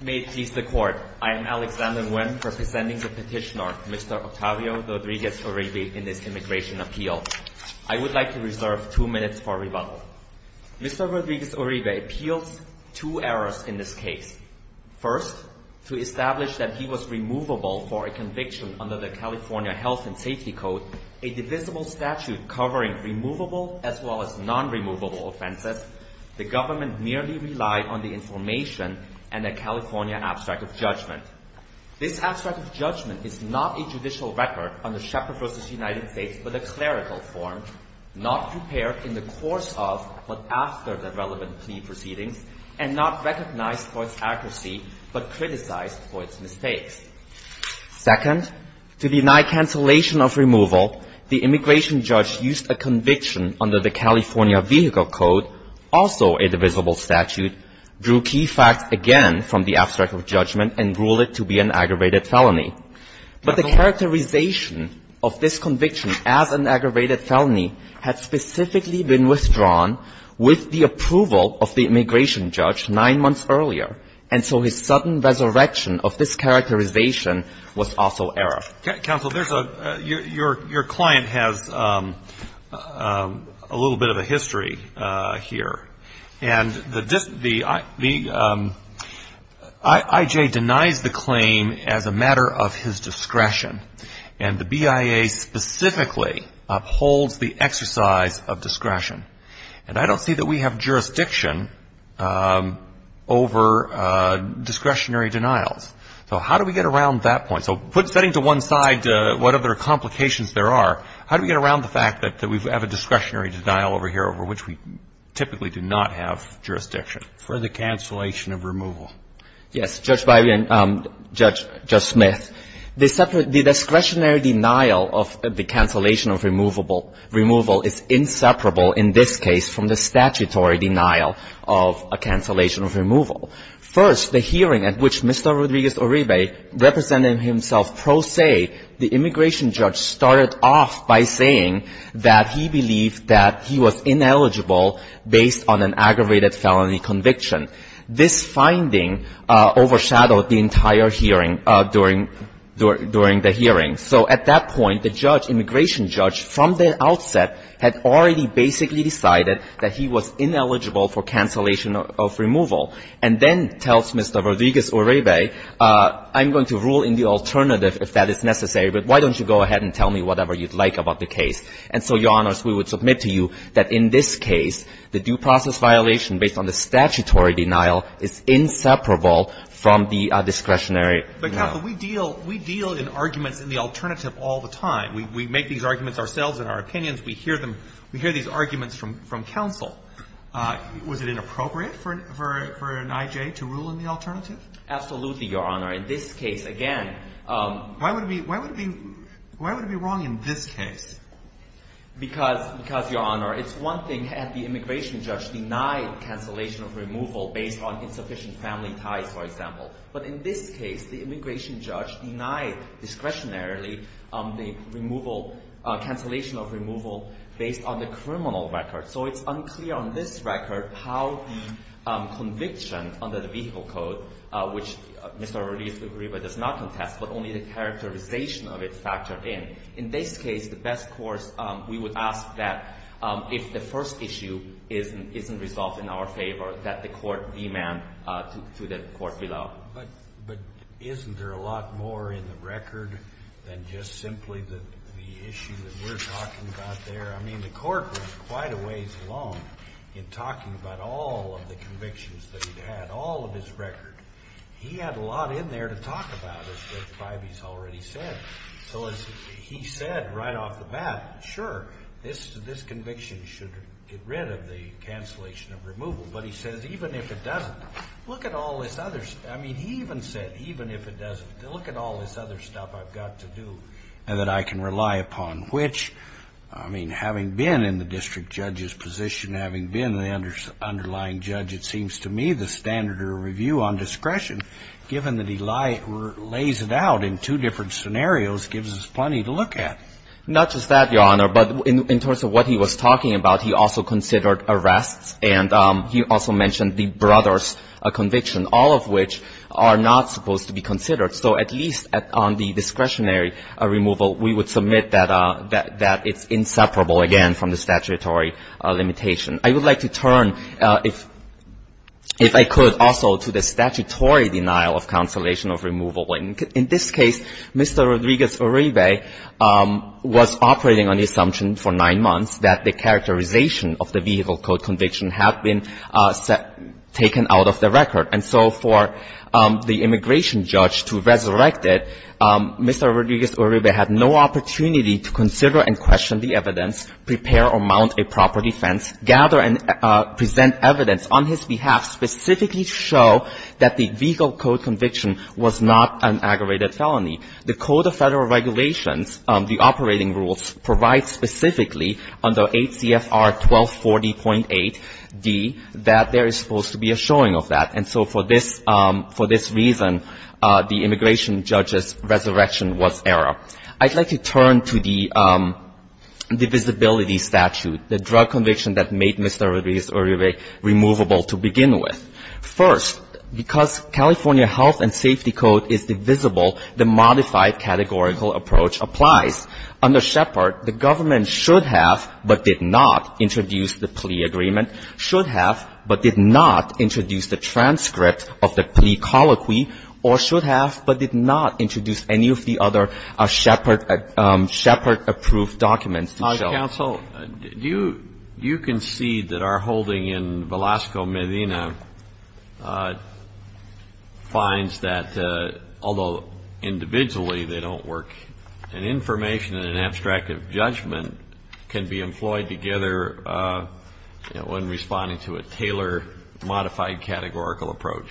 May it please the Court, I am Alexander Nguyen, representing the petitioner, Mr. Octavio Rodriguez-Uribe, in this immigration appeal. I would like to reserve two minutes for rebuttal. Mr. Rodriguez-Uribe appeals two errors in this case. First, to establish that he was removable for a conviction under the California Health and Safety Code, a divisible statute covering removable as well as non-removable offenses. The government merely relied on the information and a California abstract of judgment. This abstract of judgment is not a judicial record under Shepherd v. United States but a clerical form, not prepared in the course of but after the relevant plea proceedings, and not recognized for its accuracy but criticized for its mistakes. Second, to deny cancellation of removal, the immigration judge used a conviction under the California Vehicle Code, also a divisible statute, drew key facts again from the abstract of judgment, and ruled it to be an aggravated felony. But the characterization of this conviction as an aggravated felony had specifically been withdrawn with the approval of the immigration judge nine months earlier. And so his sudden resurrection of this characterization was also error. Counsel, your client has a little bit of a history here. And the I.J. denies the claim as a matter of his discretion. And the BIA specifically upholds the exercise of discretion. And I don't see that we have jurisdiction over discretionary denials. So how do we get around that point? So setting to one side what other complications there are, how do we get around the fact that we have a discretionary denial over here over which we typically do not have jurisdiction for the cancellation of removal? Yes. Judge Smith, the discretionary denial of the cancellation of removal is inseparable in this case from the statutory denial of a cancellation of removal. First, the hearing at which Mr. Rodriguez-Uribe represented himself pro se, the immigration judge started off by saying that he believed that he was ineligible based on an aggravated felony conviction. This finding overshadowed the entire hearing during the hearing. So at that point, the judge, immigration judge, from the outset had already basically decided that he was ineligible for cancellation of removal, and then tells Mr. Rodriguez-Uribe, I'm going to rule in the alternative if that is necessary, but why don't you go ahead and tell me whatever you'd like about the case. And so, Your Honors, we would submit to you that in this case, the due process violation based on the statutory denial is inseparable from the discretionary denial. But, counsel, we deal in arguments in the alternative all the time. We make these arguments ourselves in our opinions. We hear them. We hear these arguments from counsel. Was it inappropriate for an I.J. to rule in the alternative? Absolutely, Your Honor. In this case, again. Why would it be wrong in this case? Because, Your Honor, it's one thing had the immigration judge denied cancellation of removal based on insufficient family ties, for example. But in this case, the immigration judge denied discretionarily the removal, cancellation of removal based on the criminal record. So it's unclear on this record how the conviction under the vehicle code, which Mr. Rodriguez-Uribe does not contest, but only the characterization of it factored in. In this case, the best course, we would ask that if the first issue isn't resolved in our favor, that the court demand to the court be allowed. But isn't there a lot more in the record than just simply the issue that we're talking about there? I mean, the court was quite a ways along in talking about all of the convictions that he had, all of his record. He had a lot in there to talk about, as Judge Bivey's already said. So as he said right off the bat, sure, this conviction should get rid of the cancellation of removal. But he says, even if it doesn't, look at all this other, I mean, he even said, even if it doesn't, look at all this other stuff I've got to do and that I can rely upon. Which, I mean, having been in the district judge's position, having been the underlying judge, it seems to me the standard of review on discretion, given that he lays it out in two different scenarios, gives us plenty to look at. Not just that, Your Honor, but in terms of what he was talking about, he also considered arrests, and he also mentioned the brothers conviction, all of which are not supposed to be considered. So at least on the discretionary removal, we would submit that it's inseparable, again, from the statutory limitation. I would like to turn, if I could, also to the statutory denial of cancellation of removal. In this case, Mr. Rodriguez-Uribe was operating on the assumption for nine months that the characterization of the vehicle code conviction had been taken out of the record. And so for the immigration judge to resurrect it, Mr. Rodriguez-Uribe had no opportunity to consider and question the evidence, prepare or mount a proper defense, gather and present evidence on his behalf specifically to show that the vehicle code conviction was not an aggravated felony. The Code of Federal Regulations, the operating rules, provide specifically under 8 CFR 1240.8d that there is supposed to be a showing of that. And so for this reason, the immigration judge's resurrection was error. I'd like to turn to the divisibility statute, the drug conviction that made Mr. Rodriguez-Uribe removable to begin with. First, because California health and safety code is divisible, the modified categorical approach applies. Under Shepard, the government should have but did not introduce the plea agreement, should have but did not introduce the transcript of the plea colloquy, or should have but did not introduce any of the other Shepard-approved documents to show. Counsel, you can see that our holding in Velasco, Medina, finds that although individually they don't work, an information and an abstract of judgment can be employed together when responding to a Taylor modified categorical approach.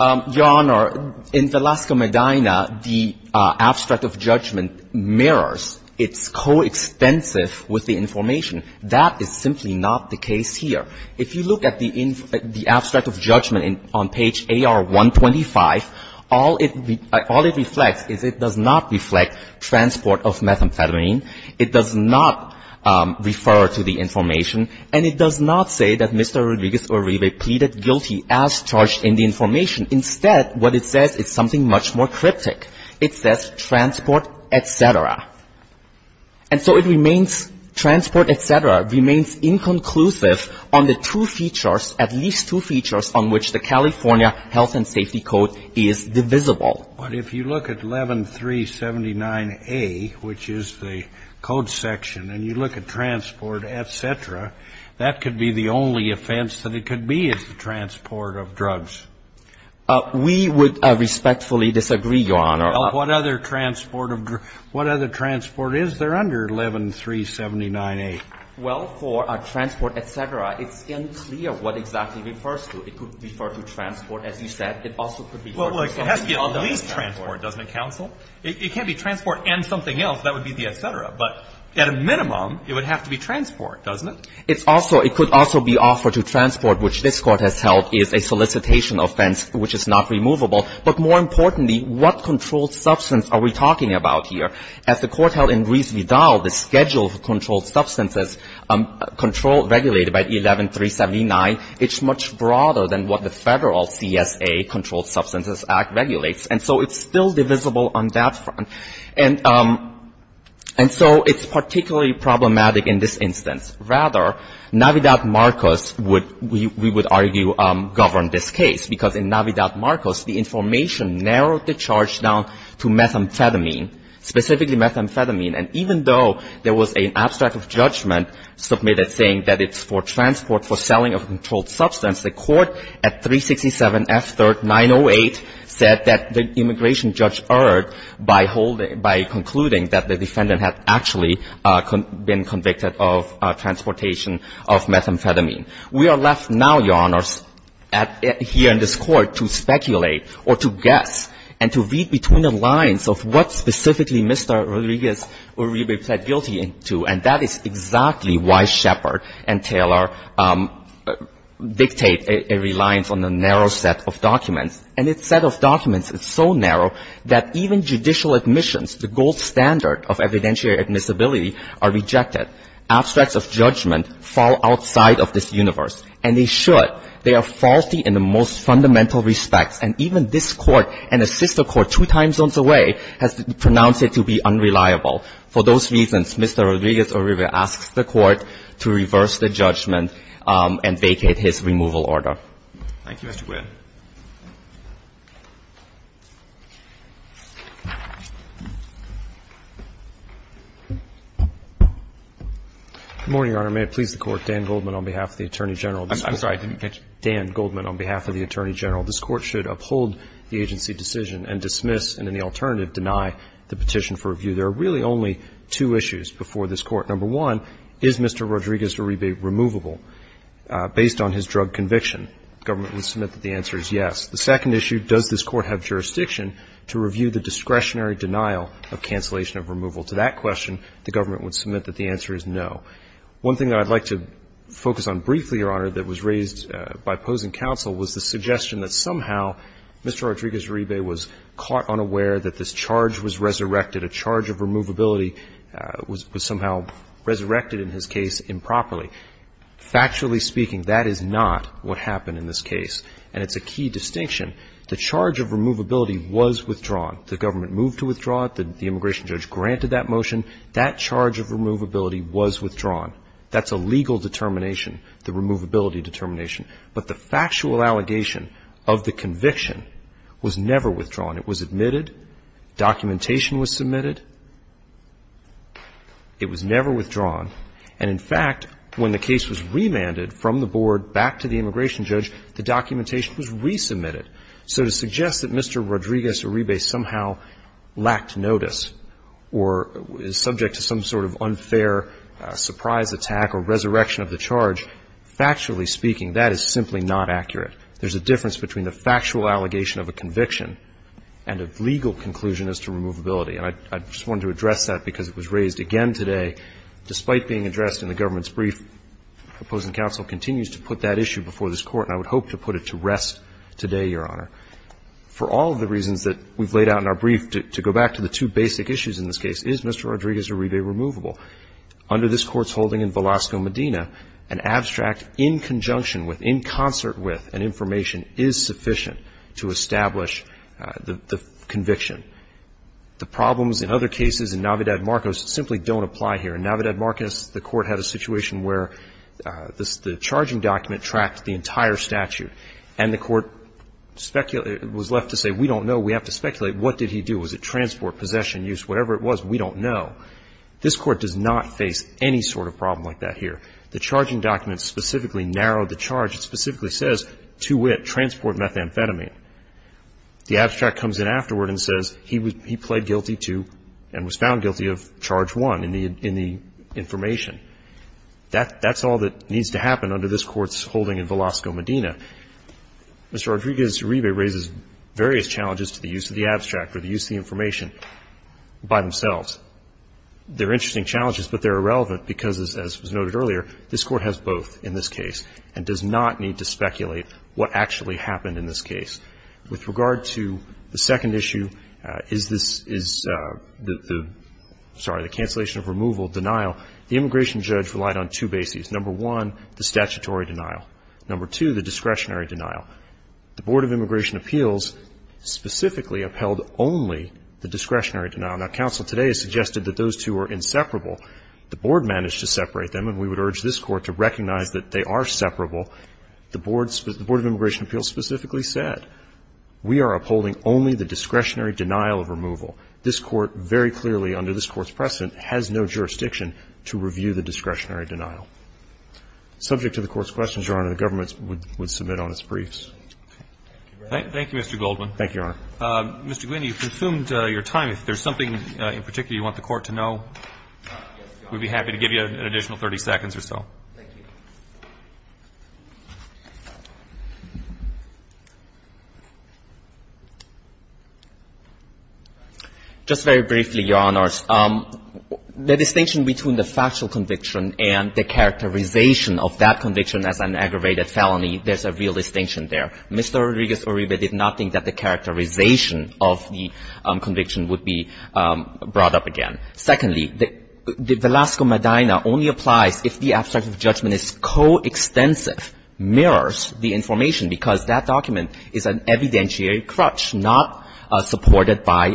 Your Honor, in Velasco, Medina, the abstract of judgment mirrors. It's coextensive with the information. That is simply not the case here. If you look at the abstract of judgment on page AR-125, all it reflects is it does not reflect transport of methamphetamine. It does not refer to the information, and it does not say that Mr. Rodriguez-Uribe pleaded guilty as charged in the information. Instead, what it says is something much more cryptic. It says transport, et cetera. And so it remains, transport, et cetera, remains inconclusive on the two features, at least two features on which the California Health and Safety Code is divisible. But if you look at 11379A, which is the code section, and you look at transport, et cetera, that could be the only offense that it could be is the transport of drugs. We would respectfully disagree, Your Honor. What other transport of drugs? What other transport is there under 11379A? Well, for transport, et cetera, it's unclear what exactly it refers to. It could refer to transport, as you said. It also could refer to something else. Well, it has to be at least transport, doesn't it, counsel? It can't be transport and something else. That would be the et cetera. But at a minimum, it would have to be transport, doesn't it? It's also — it could also be offered to transport, which this Court has held is a solicitation offense, which is not removable. But more importantly, what controlled substance are we talking about here? As the Court held in Reese v. Dow, the schedule of controlled substances, controlled regulated by 11379, it's much broader than what the Federal CSA, Controlled Substances Act, regulates. And so it's still divisible on that front. And so it's particularly problematic in this instance. Rather, Navidad-Marcos would, we would argue, govern this case. Because in Navidad-Marcos, the information narrowed the charge down to methamphetamine, specifically methamphetamine. And even though there was an abstract of judgment submitted saying that it's for transport for selling of a controlled substance, the Court at 367 F. 3rd. 908 said that the immigration judge erred by holding, by concluding that the defendant had actually been convicted of transportation of methamphetamine. We are left now, Your Honors, here in this Court to speculate or to guess and to read between the lines of what specifically Mr. Rodriguez would be plead guilty to. And that is exactly why Shepard and Taylor dictate a reliance on a narrow set of documents and its set of documents is so narrow that even judicial admissions, the gold standard of evidentiary admissibility, are rejected. Abstracts of judgment fall outside of this universe. And they should. They are faulty in the most fundamental respects. And even this Court and a sister court two time zones away has pronounced it to be unreliable. For those reasons, Mr. Rodriguez-Oribe asks the Court to reverse the judgment and vacate his removal order. Thank you, Your Honor. Thank you, Mr. Whalen. Good morning, Your Honor. May it please the Court. Dan Goldman on behalf of the Attorney General. I'm sorry. Dan Goldman on behalf of the Attorney General. This Court should uphold the agency decision and dismiss and in the alternative deny the petition for review. There are really only two issues before this Court. Number one, is Mr. Rodriguez-Oribe removable based on his drug conviction? The government would submit that the answer is yes. The second issue, does this Court have jurisdiction to review the discretionary denial of cancellation of removal? To that question, the government would submit that the answer is no. One thing that I'd like to focus on briefly, Your Honor, that was raised by opposing counsel was the suggestion that somehow Mr. Rodriguez-Oribe was caught unaware that this charge was resurrected. A charge of removability was somehow resurrected in his case improperly. Factually speaking, that is not what happened in this case. And it's a key distinction. The charge of removability was withdrawn. The government moved to withdraw it. The immigration judge granted that motion. That charge of removability was withdrawn. That's a legal determination, the removability determination. But the factual allegation of the conviction was never withdrawn. It was admitted. Documentation was submitted. It was never withdrawn. And, in fact, when the case was remanded from the board back to the immigration judge, the documentation was resubmitted. So to suggest that Mr. Rodriguez-Oribe somehow lacked notice or is subject to some sort of unfair surprise attack or resurrection of the charge, factually speaking, that is simply not accurate. There's a difference between the factual allegation of a conviction and a legal conclusion as to removability. And I just wanted to address that because it was raised again today. Despite being addressed in the government's brief, opposing counsel continues to put that issue before this Court, and I would hope to put it to rest today, Your Honor. For all of the reasons that we've laid out in our brief, to go back to the two basic issues in this case, is Mr. Rodriguez-Oribe removable? Under this Court's holding in Velasco, Medina, an abstract in conjunction with, in concert with, an information is sufficient to establish the conviction. The problems in other cases in Navidad-Marcos simply don't apply here. In Navidad-Marcos, the Court had a situation where the charging document tracked the entire statute, and the Court was left to say, we don't know. We have to speculate. What did he do? Was it transport, possession, use? Whatever it was, we don't know. This Court does not face any sort of problem like that here. The charging document specifically narrowed the charge. It specifically says, to wit, transport methamphetamine. The abstract comes in afterward and says he played guilty to and was found guilty of charge one in the information. That's all that needs to happen under this Court's holding in Velasco, Medina. Mr. Rodriguez-Oribe raises various challenges to the use of the abstract or the use of the information by themselves. They're interesting challenges, but they're irrelevant because, as was noted earlier, this Court has both in this case and does not need to speculate what actually happened in this case. With regard to the second issue, is this the, sorry, the cancellation of removal denial, the immigration judge relied on two bases. Number one, the statutory denial. Number two, the discretionary denial. The Board of Immigration Appeals specifically upheld only the discretionary denial. Now, counsel today has suggested that those two are inseparable. The Board managed to separate them, and we would urge this Court to recognize that they are separable. The Board of Immigration Appeals specifically said, we are upholding only the discretionary denial of removal. This Court very clearly, under this Court's precedent, has no jurisdiction to review the discretionary denial. Subject to the Court's questions, Your Honor, the government would submit on its briefs. Thank you, Mr. Goldman. Thank you, Your Honor. Mr. Guiney, you've consumed your time. If there's something in particular you want the Court to know, we'd be happy to give you an additional 30 seconds or so. Thank you. Just very briefly, Your Honors. The distinction between the factual conviction and the characterization of that conviction as an aggravated felony, there's a real distinction there. Mr. Rodriguez-Uribe did not think that the characterization of the conviction would be brought up again. Secondly, the Velasco-Medina only applies if the abstract of judgment is coextensive, mirrors the information, because that document is an evidentiary crutch, not supported by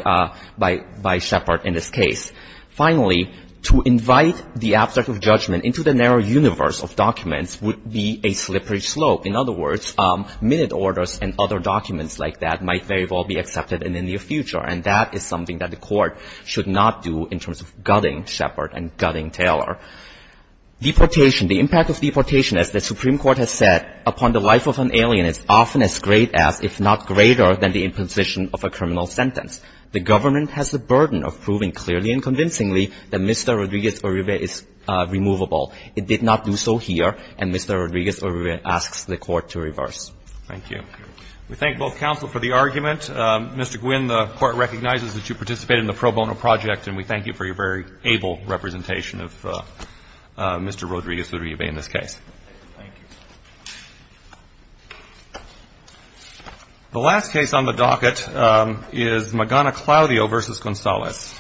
Shepard in this case. Finally, to invite the abstract of judgment into the narrow universe of documents would be a slippery slope. In other words, minute orders and other documents like that might very well be accepted in the near future. And that is something that the Court should not do in terms of gutting Shepard and gutting Taylor. Deportation. The impact of deportation, as the Supreme Court has said, upon the life of an alien is often as great as, if not greater, than the imposition of a criminal sentence. The government has the burden of proving clearly and convincingly that Mr. Rodriguez-Uribe is removable. It did not do so here, and Mr. Rodriguez-Uribe asks the Court to reverse. Thank you. We thank both counsel for the argument. Mr. Guinn, the Court recognizes that you participated in the pro bono project, and we thank you for your very able representation of Mr. Rodriguez-Uribe in this case. Thank you. The last case on the docket is Magana-Claudio v. Gonzalez.